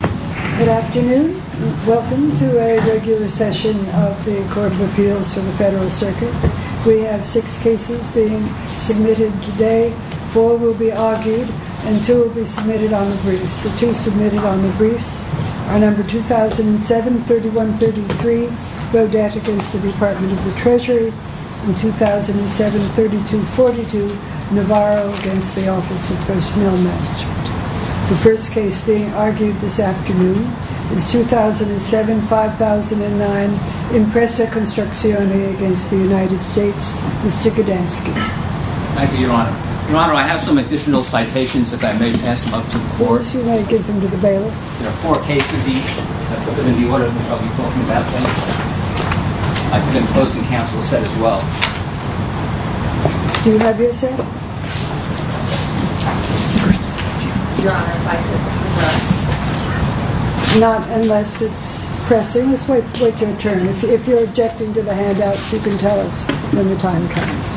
Good afternoon. Welcome to a regular session of the Court of Appeals for the Federal Circuit. We have six cases being submitted today. Four will be argued and two will be submitted on the briefs. The two submitted on the briefs are number 2007-3133, Rodat against the Department of the Treasury, and 2007-3242, Navarro against the Office of Personnel Management. The first case being argued this afternoon is 2007-5009, Impresa Construzioni against the United States, Mr. Gudansky. Thank you, Your Honor. Your Honor, I have some additional citations that I may pass them up to the Court. Yes, you may give them to the bailiff. There are four cases each. I've put them in the order that I'll be talking about later. I've been closing counsel's set as well. Do you have your set? Not unless it's pressing. Just wait your turn. If you're objecting to the handouts, you can tell us when the time comes.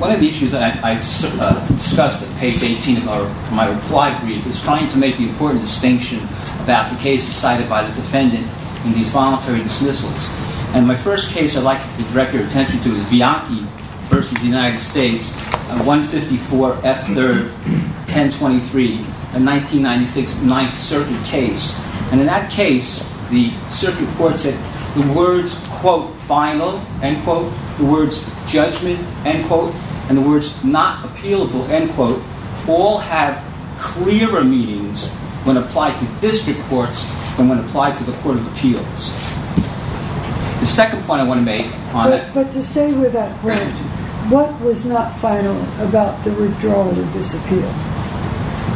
One of the issues that I discussed at page 18 of my reply brief is trying to make the important distinction about the cases cited by the defendant in these voluntary dismissals. And my first case I'd like to direct your attention to is Bianchi versus the United States, 154 F. 3rd, 1023, a 1996 Ninth Circuit case. And in that case, the Circuit Court said the words, quote, final, end quote, the words judgment, end quote, and the words not appealable, end quote, all have clearer meanings when applied to district courts than when applied to the Court of Appeals. The second point I want to make, Your Honor. But to stay with that point, what was not final about the withdrawal of the disappeal?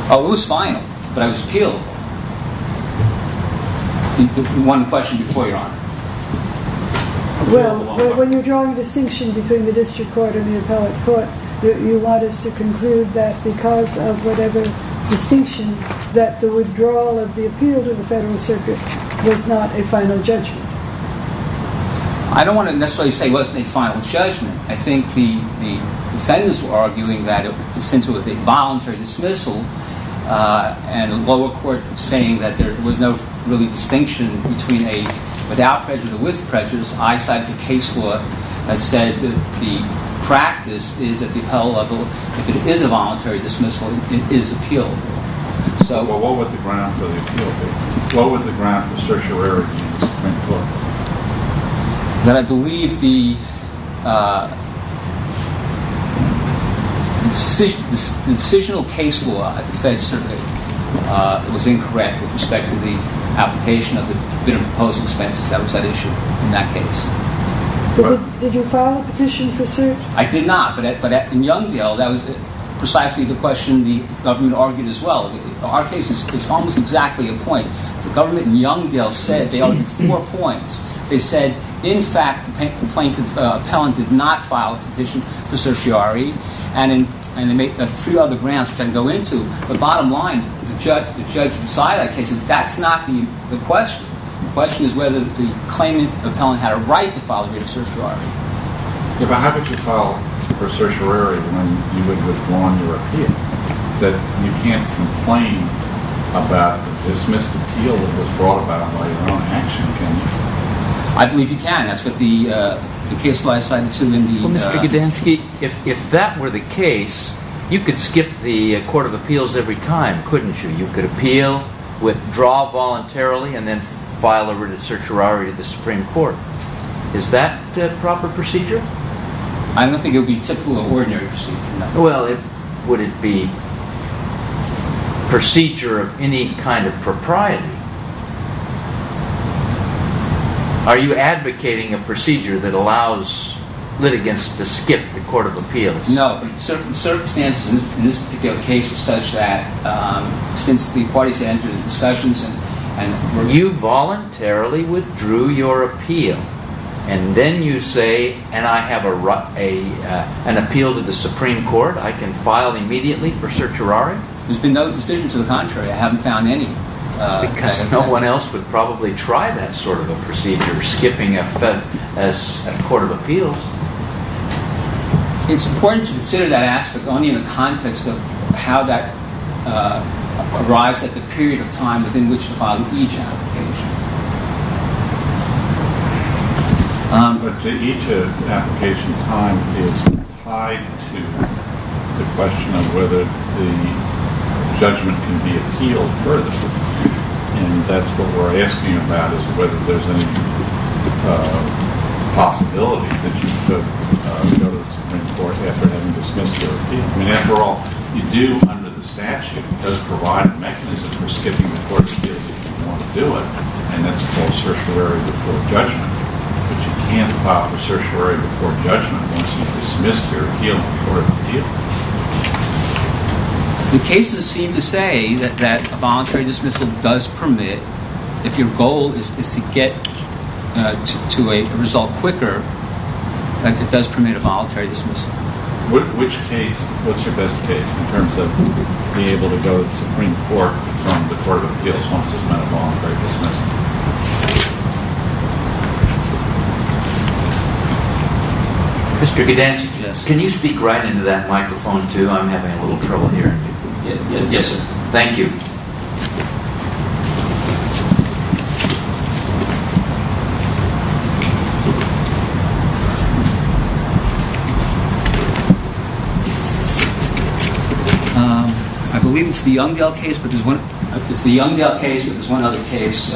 Oh, it was final, but I was appealable. One question before, Your Honor. Well, when you're drawing a distinction between the district court and the appellate court, you want us to conclude that because of whatever distinction, that the withdrawal of the appeal to the Federal Circuit was not a final judgment. I don't want to necessarily say it wasn't a final judgment. And I think the defendants were arguing that since it was a voluntary dismissal, and the lower court saying that there was no really distinction between a without prejudice or with prejudice, I cite the case law that said that the practice is at the appellate level, if it is a voluntary dismissal, it is appealed. Well, what would the ground for the appeal be? What would the ground for certiorari mean for it? That I believe the decisional case law at the Federal Circuit was incorrect with respect to the application of the bid and proposed expenses. That was at issue in that case. Did you file a petition for cert? I did not, but in Youngdale, that was precisely the question the government argued as well. Our case is almost exactly a point. The government in Youngdale said they argued four points. They said, in fact, the plaintiff, the appellant, did not file a petition for certiorari. And they made a few other grounds which I can go into. But bottom line, the judge who decided that case, that's not the question. The question is whether the claimant, the appellant, had a right to file a petition for certiorari. How could you file a petition for certiorari when you would have withdrawn your appeal? You can't complain about a dismissed appeal that was brought about by your own action, can you? I believe you can. That's what the case law is assigned to. Well, Mr. Gidansky, if that were the case, you could skip the Court of Appeals every time, couldn't you? You could appeal, withdraw voluntarily, and then file a written certiorari at the Supreme Court. Is that a proper procedure? I don't think it would be a typical or ordinary procedure. Well, would it be a procedure of any kind of propriety? Are you advocating a procedure that allows litigants to skip the Court of Appeals? No. The circumstances in this particular case were such that since the parties had entered into discussions... You voluntarily withdrew your appeal, and then you say, and I have an appeal to the Supreme Court, I can file immediately for certiorari? There's been no decision to the contrary. I haven't found any. No one else would probably try that sort of a procedure, skipping a court of appeals. It's important to consider that aspect only in the context of how that arrives at the period of time within which to file each application. But the each application time is tied to the question of whether the judgment can be appealed further. And that's what we're asking about, is whether there's any possibility that you could go to the Supreme Court after having dismissed your appeal. I mean, after all, you do, under the statute, it does provide a mechanism for skipping the Court of Appeals if you want to do it, and that's called certiorari before judgment. But you can't file for certiorari before judgment once you've dismissed your appeal before the Court of Appeals. The cases seem to say that a voluntary dismissal does permit, if your goal is to get to a result quicker, that it does permit a voluntary dismissal. Which case, what's your best case in terms of being able to go to the Supreme Court from the Court of Appeals once there's been a voluntary dismissal? Mr. Gedanski, can you speak right into that microphone, too? I'm having a little trouble hearing you. Yes, sir. Thank you. I believe it's the Youndell case, but there's one other case.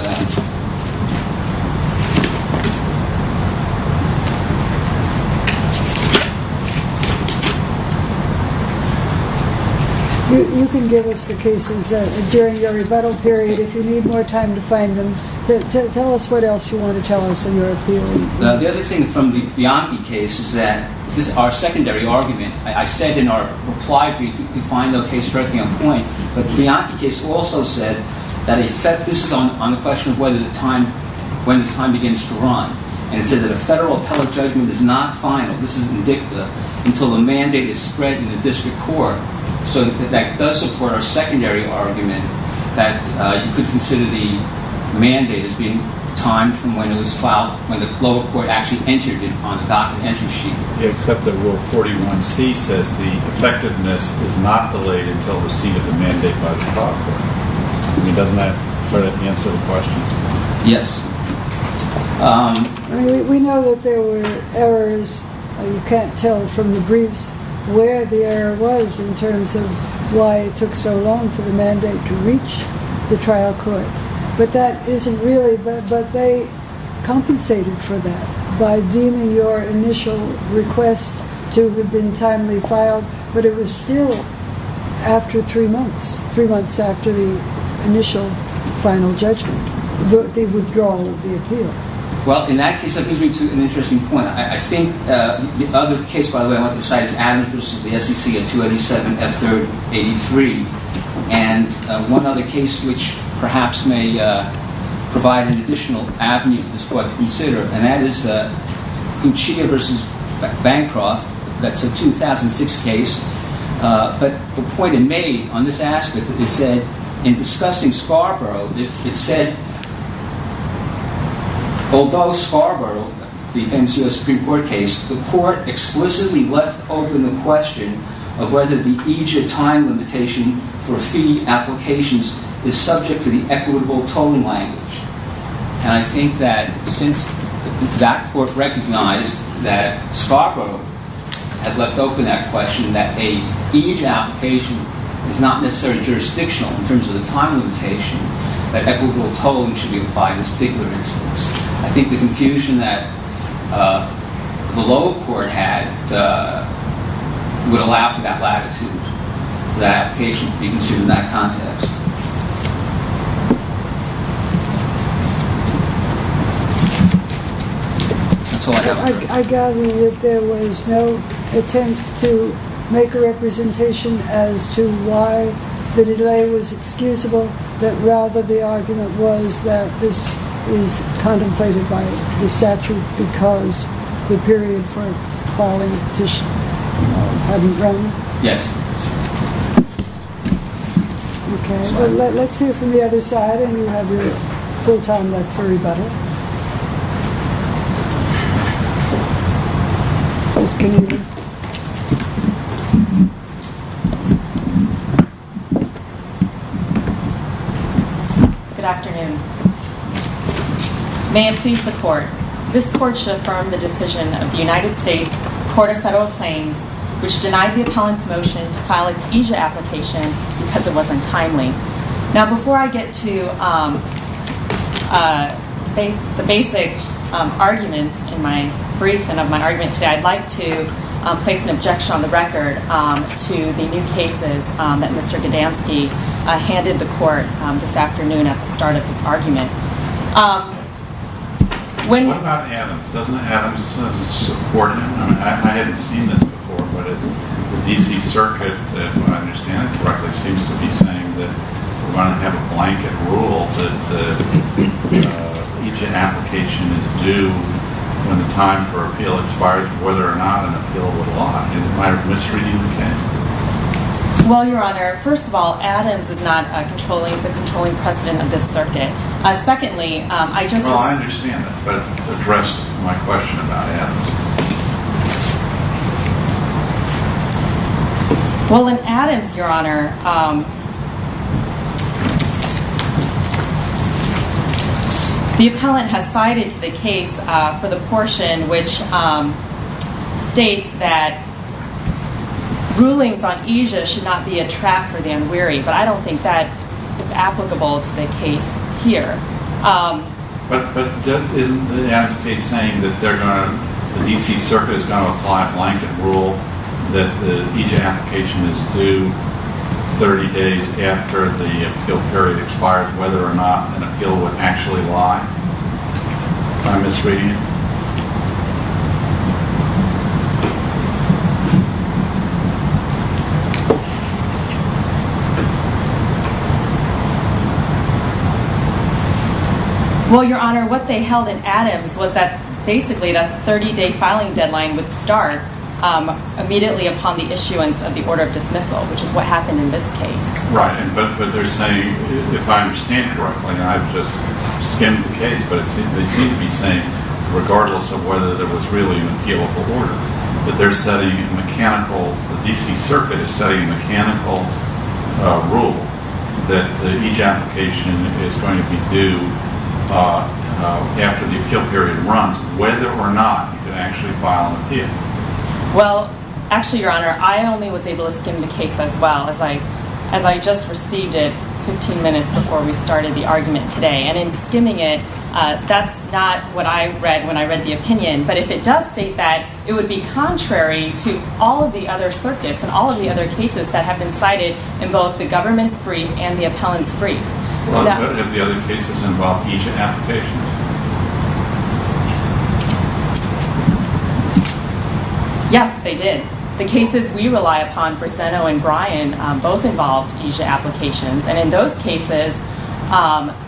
You can give us the cases during the rebuttal period if you need more time to find them. Tell us what else you want to tell us in your appeal. The other thing from the Bianchi case is that this is our secondary argument. I said in our reply brief, you can find the case directly on point. But the Bianchi case also said that this is on the question of whether or not the Court of Appeals would be able to go to the Court of Appeals on the question of when the time begins to run. And it said that a federal appellate judgment is not final, this isn't dicta, until the mandate is spread in the district court. So that does support our secondary argument that you could consider the mandate as being timed from when it was filed, when the lower court actually entered it on the docket entry sheet. Except that Rule 41C says the effectiveness is not delayed until receipt of the mandate by the lower court. Doesn't that sort of answer the question? Yes. We know that there were errors. You can't tell from the briefs where the error was in terms of why it took so long for the mandate to reach the trial court. But they compensated for that by deeming your initial request to have been timely filed, but it was still after three months, three months after the initial final judgment, the withdrawal of the appeal. Well, in that case, that brings me to an interesting point. I think the other case, by the way, I want to cite is Adams v. the SEC at 287 F. 3rd 83. And one other case which perhaps may provide an additional avenue for this Court to consider, and that is Uchia v. Bancroft. That's a 2006 case. But the point it made on this aspect is that in discussing Scarborough, it said, although Scarborough became the Supreme Court case, the Court explicitly left open the question of whether the EJIA time limitation for fee applications is subject to the equitable tolling language. And I think that since that Court recognized that Scarborough had left open that question, that an EJIA application is not necessarily jurisdictional in terms of the time limitation, that equitable tolling should be applied in this particular instance. I think the confusion that the lower court had would allow for that latitude, for that application to be considered in that context. I gather that there was no attempt to make a representation as to why the delay was excusable, that rather the argument was that this is contemplated by the statute because the period for calling the petition hadn't run? Yes. Okay. Let's hear from the other side, and you have your full time left for rebuttal. Good afternoon. May it please the Court. This Court should affirm the decision of the United States Court of Federal Claims, which denied the appellant's motion to file an EJIA application because it wasn't timely. Now, before I get to the basic arguments in my brief and of my argument today, I'd like to place an objection on the record to the new cases that Mr. Godansky handed the Court this afternoon at the start of his argument. What about Adams? Doesn't Adams support him? I mean, I hadn't seen this before, but the D.C. Circuit, if I understand it correctly, seems to be saying that we want to have a blanket rule that the EJIA application is due when the time for appeal expires, whether or not an appeal would lie. Am I misreading the case? Well, Your Honor, first of all, Adams is not the controlling president of this circuit. Secondly, I just... Well, I understand that, but address my question about Adams. Well, in Adams, Your Honor, the appellant has cited the case for the portion which states that rulings on EJIA should not be a trap for the unwary, but I don't think that is applicable to the case here. But isn't the Adams case saying that the D.C. Circuit is going to apply a blanket rule that the EJIA application is due 30 days after the appeal period expires, whether or not an appeal would actually lie? Am I misreading it? Well, Your Honor, what they held in Adams was that basically the 30-day filing deadline would start immediately upon the issuance of the order of dismissal, which is what happened in this case. Right, but they're saying, if I understand correctly, and I've just skimmed the case, but they seem to be saying, regardless of whether there was really an appeal of the order, that the D.C. Circuit is setting a mechanical rule that the EJIA application is going to be due after the appeal period runs, whether or not you can actually file an appeal. Well, actually, Your Honor, I only was able to skim the case as well, as I just received it 15 minutes before we started the argument today. And in skimming it, that's not what I read when I read the opinion. But if it does state that, it would be contrary to all of the other circuits and all of the other cases that have been cited in both the government's brief and the appellant's brief. Well, but have the other cases involved EJIA applications? Yes, they did. The cases we rely upon, Brissetto and Bryan, both involved EJIA applications. And in those cases,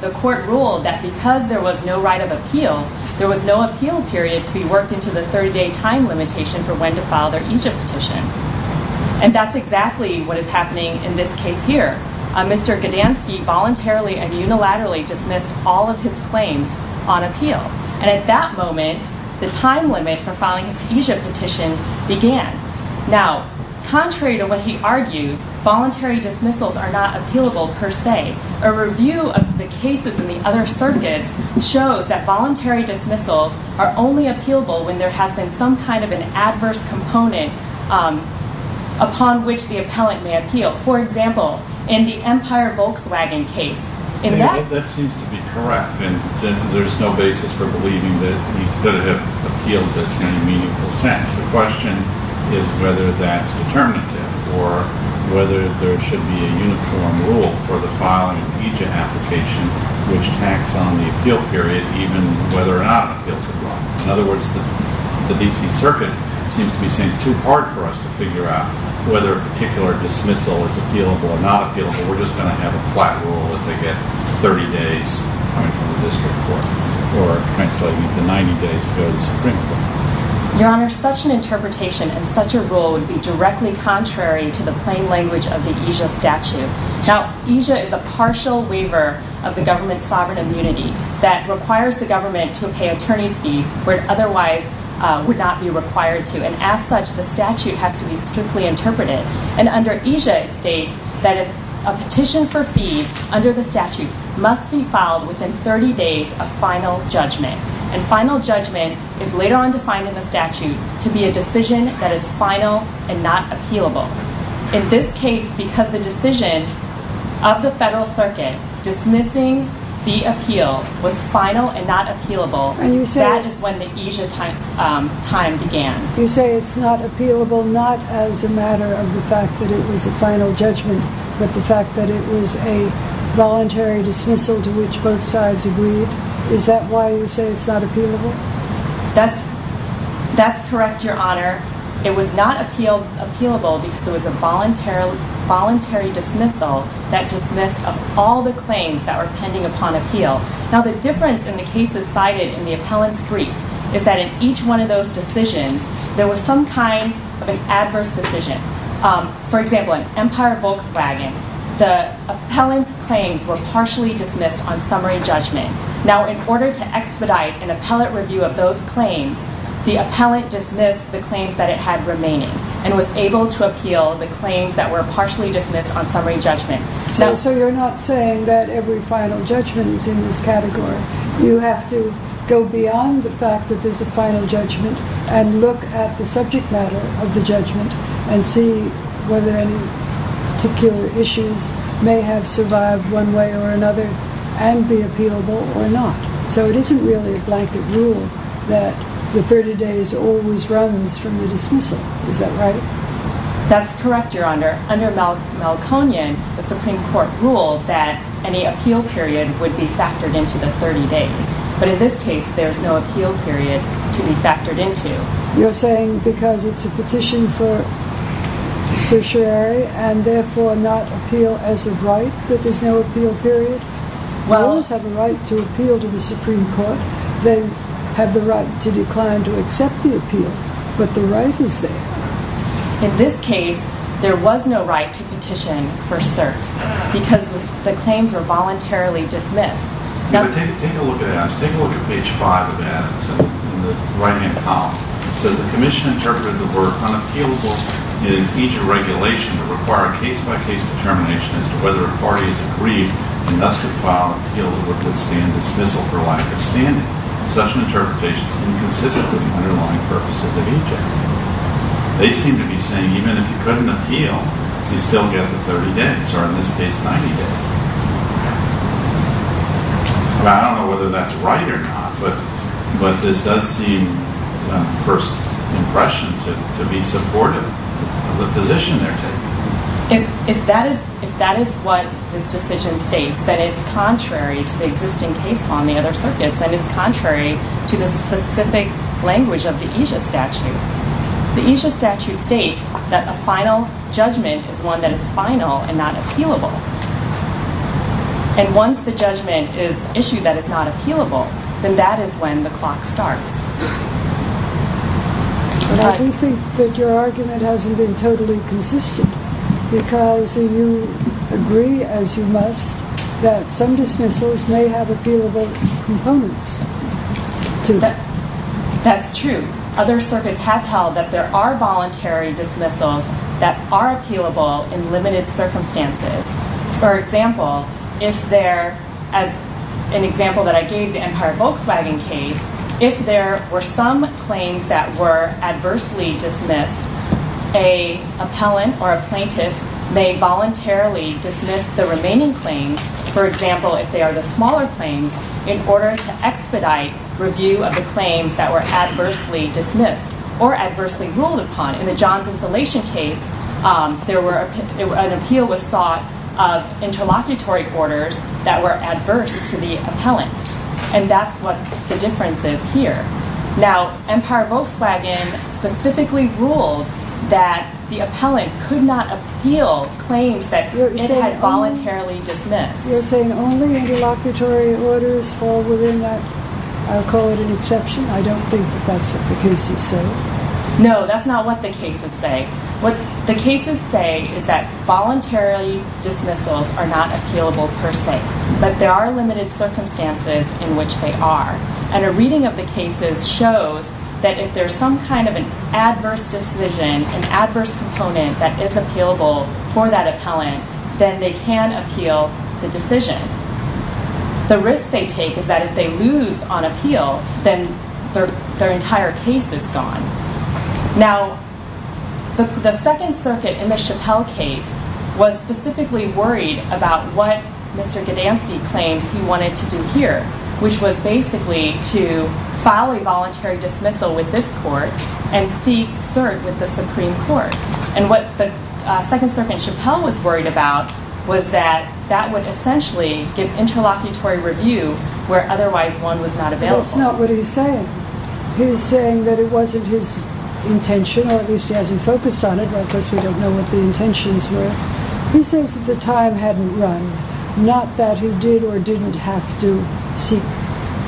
the court ruled that because there was no right of appeal, there was no appeal period to be worked into the 30-day time limitation for when to file their EJIA petition. And that's exactly what is happening in this case here. Mr. Gdanski voluntarily and unilaterally dismissed all of his claims on appeal. And at that moment, the time limit for filing an EJIA petition began. Now, contrary to what he argues, voluntary dismissals are not appealable per se. A review of the cases in the other circuits shows that voluntary dismissals are only appealable when there has been some kind of an adverse component upon which the appellant may appeal. For example, in the Empire Volkswagen case. That seems to be correct. And there's no basis for believing that he could have appealed this in any meaningful sense. The question is whether that's determinative or whether there should be a uniform rule for the filing of an EJIA application which tacks on the appeal period, even whether or not an appeal could run. In other words, the D.C. Circuit seems to be saying it's too hard for us to figure out whether a particular dismissal is appealable or not appealable. We're just going to have a flat rule that they get 30 days coming from the district court or translating to 90 days to go to the Supreme Court. Your Honor, such an interpretation and such a rule would be directly contrary to the plain language of the EJIA statute. Now, EJIA is a partial waiver of the government's sovereign immunity that requires the government to pay attorney's fees where it otherwise would not be required to. And as such, the statute has to be strictly interpreted. And under EJIA it states that a petition for fees under the statute must be filed within 30 days of final judgment. And final judgment is later on defined in the statute to be a decision that is final and not appealable. In this case, because the decision of the federal circuit dismissing the appeal was final and not appealable, that is when the EJIA time began. You say it's not appealable not as a matter of the fact that it was a final judgment but the fact that it was a voluntary dismissal to which both sides agreed. Is that why you say it's not appealable? That's correct, Your Honor. It was not appealable because it was a voluntary dismissal that dismissed all the claims that were pending upon appeal. Now, the difference in the cases cited in the appellant's brief is that in each one of those decisions there was some kind of an adverse decision. For example, in Empire Volkswagen, the appellant's claims were partially dismissed on summary judgment. Now, in order to expedite an appellate review of those claims, the appellant dismissed the claims that it had remaining and was able to appeal the claims that were partially dismissed on summary judgment. So you're not saying that every final judgment is in this category. You have to go beyond the fact that there's a final judgment and look at the subject matter of the judgment and see whether any particular issues may have survived one way or another and be appealable or not. So it isn't really a blanket rule that the 30 days always runs from the dismissal. Is that right? That's correct, Your Honor. Under Melconian, the Supreme Court rules that any appeal period would be factored into the 30 days. But in this case, there's no appeal period to be factored into. You're saying because it's a petition for certiorari and therefore not appeal as of right that there's no appeal period? Lawyers have the right to appeal to the Supreme Court. They have the right to decline to accept the appeal. But the right is there. In this case, there was no right to petition for cert because the claims were voluntarily dismissed. Take a look at page 5 of Adams in the right-hand column. It says, The Commission interpreted the word unappealable in its Egypt regulation to require a case-by-case determination as to whether authorities agreed and thus could file an appeal to withstand dismissal for lack of standing. Such an interpretation is inconsistent with the underlying purposes of Egypt. They seem to be saying even if you couldn't appeal, you'd still get the 30 days, or in this case, 90 days. I don't know whether that's right or not, but this does seem, at first impression, to be supportive of the position they're taking. If that is what this decision states, then it's contrary to the existing case law in the other circuits, and it's contrary to the specific language of the Egypt statute. The Egypt statute states that a final judgment is one that is final and not appealable. And once the judgment is issued that is not appealable, then that is when the clock starts. But I do think that your argument hasn't been totally consistent because you agree, as you must, that some dismissals may have appealable components to them. That's true. Other circuits have held that there are voluntary dismissals that are appealable in limited circumstances. For example, as an example that I gave the entire Volkswagen case, if there were some claims that were adversely dismissed, an appellant or a plaintiff may voluntarily dismiss the remaining claims, for example, if they are the smaller claims, in order to expedite review of the claims that were adversely dismissed or adversely ruled upon. In the Johns Insulation case, an appeal was sought of interlocutory orders that were adverse to the appellant. And that's what the difference is here. Now, Empire Volkswagen specifically ruled that the appellant could not appeal claims that it had voluntarily dismissed. You're saying only interlocutory orders fall within that? I'll call it an exception. I don't think that that's what the case is saying. No, that's not what the cases say. What the cases say is that voluntary dismissals are not appealable per se, but there are limited circumstances in which they are. And a reading of the cases shows that if there's some kind of an adverse decision, an adverse component that is appealable for that appellant, then they can appeal the decision. The risk they take is that if they lose on appeal, then their entire case is gone. Now, the Second Circuit in the Chappelle case was specifically worried about what Mr. Godansky claimed he wanted to do here, which was basically to file a voluntary dismissal with this court and seek cert with the Supreme Court. And what the Second Circuit in Chappelle was worried about was that that would essentially give interlocutory review where otherwise one was not available. That's not what he's saying. He's saying that it wasn't his intention, or at least he hasn't focused on it, because we don't know what the intentions were. He says that the time hadn't run, not that he did or didn't have to seek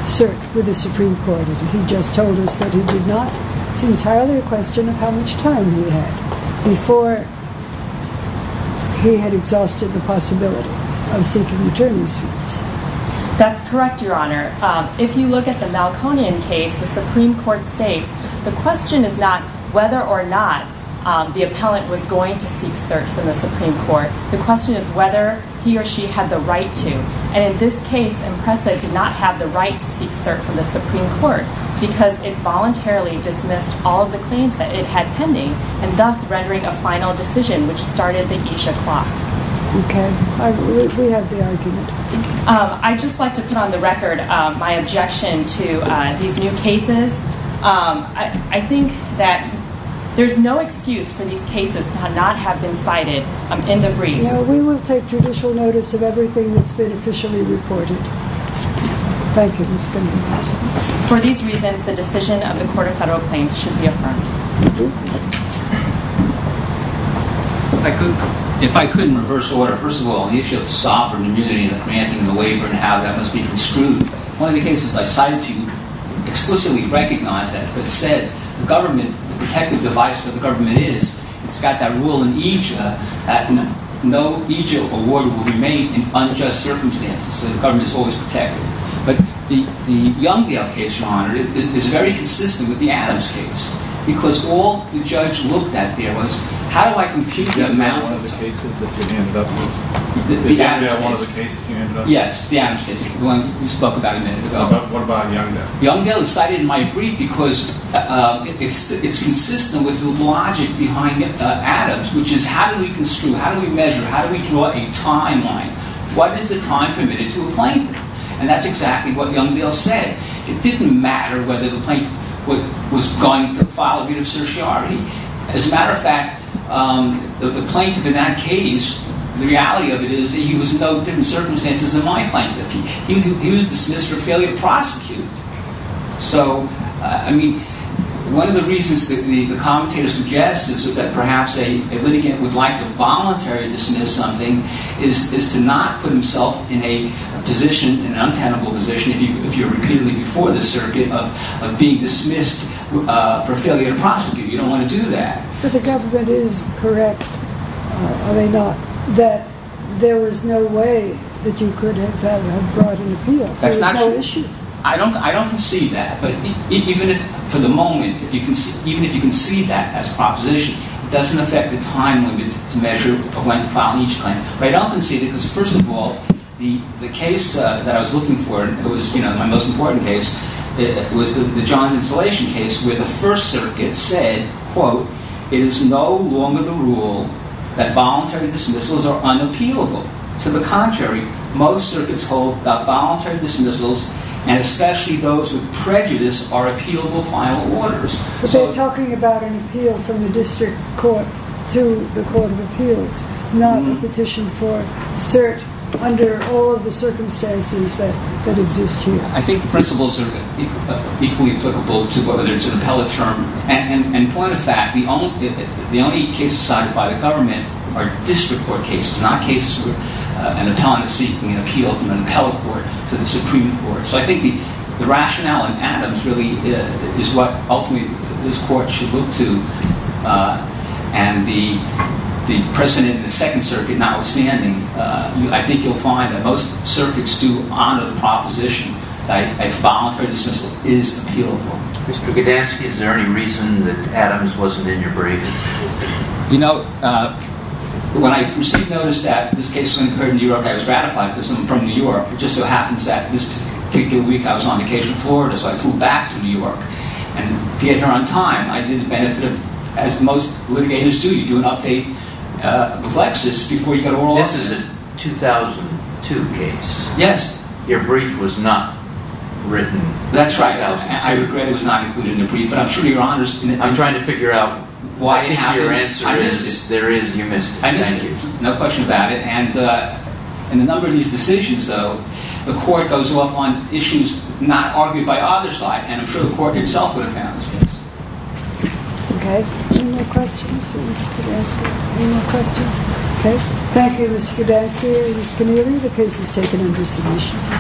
cert with the Supreme Court. He just told us that he did not. It's entirely a question of how much time he had before he had exhausted the possibility of seeking attorneys' fees. That's correct, Your Honor. If you look at the Malconian case, the Supreme Court states the question is not whether or not the appellant was going to seek cert from the Supreme Court. The question is whether he or she had the right to. And in this case, Impresa did not have the right to seek cert from the Supreme Court because it voluntarily dismissed all of the claims that it had pending and thus rendering a final decision, which started the Isha Clock. Okay. We have the argument. I'd just like to put on the record my objection to these new cases. I think that there's no excuse for these cases to not have been cited in the brief. We will take judicial notice of everything that's been officially reported. Thank you, Ms. Goodman. For these reasons, the decision of the Court of Federal Claims should be affirmed. If I could, in reverse order, first of all, the issue of sovereign immunity and the granting and the labor and how that must be construed, one of the cases I cited to you explicitly recognized that, but said the government, the protective device for the government is, it's got that rule in Ija that no Ija award will remain in unjust circumstances, so the government is always protected. But the Youngdale case, Your Honor, is very consistent with the Adams case because all the judge looked at there was, how do I compute the amount of time? Is that one of the cases that you ended up with? The Adams case? Is that one of the cases you ended up with? Yes, the Adams case, the one you spoke about a minute ago. What about Youngdale? Youngdale is cited in my brief because it's consistent with the logic behind Adams, which is how do we construe, how do we measure, how do we draw a timeline? What is the time permitted to a plaintiff? And that's exactly what Youngdale said. It didn't matter whether the plaintiff was going to file a view of certiorari. As a matter of fact, the plaintiff in that case, the reality of it is that he was in no different circumstances than my plaintiff. He was dismissed for failure to prosecute. So, I mean, one of the reasons that the commentator suggests is that perhaps a litigant would like to voluntarily dismiss something is to not put himself in a position, an untenable position, if you're repeatedly before the circuit, of being dismissed for failure to prosecute. You don't want to do that. But the government is correct, are they not, that there was no way that you could have brought an appeal. That's not true. There was no issue. I don't concede that. But even if, for the moment, even if you concede that as a proposition, it doesn't affect the time limit to measure when filing each claim. But I don't concede it because, first of all, the case that I was looking for, and it was my most important case, was the John Insolation case where the First Circuit said, quote, It is no longer the rule that voluntary dismissals are unappealable. To the contrary, most circuits hold that voluntary dismissals, and especially those with prejudice, are appealable final orders. But they're talking about an appeal from the district court to the court of appeals, not a petition for cert under all of the circumstances that exist here. I think the principles are equally applicable to whether there's an appellate term. And point of fact, the only cases cited by the government are district court cases, not cases where an appellant is seeking an appeal from an appellate court to the Supreme Court. So I think the rationale in Adams really is what ultimately this court should look to. And the precedent in the Second Circuit notwithstanding, I think you'll find that most circuits do honor the proposition that a voluntary dismissal is appealable. Mr. Goudansky, is there any reason that Adams wasn't in your briefing? You know, when I received notice that this case was incurred in New York, I was gratified because I'm from New York. It just so happens that this particular week I was on vacation in Florida, so I flew back to New York. And to get here on time, I did the benefit of, as most litigators do, you do an update with Lexis before you go to oral argument. This is a 2002 case. Yes. Your brief was not written. That's right. I regret it was not included in the brief. But I'm sure your Honor's... I'm trying to figure out... I think your answer is there is... I missed it. No question about it. And in a number of these decisions, though, the court goes off on issues not argued by either side. And I'm sure the court itself would have found this case. Okay. Any more questions for Mr. Goudansky? Any more questions? Okay. Thank you, Mr. Goudansky and Ms. Keneally. The case is taken under submission.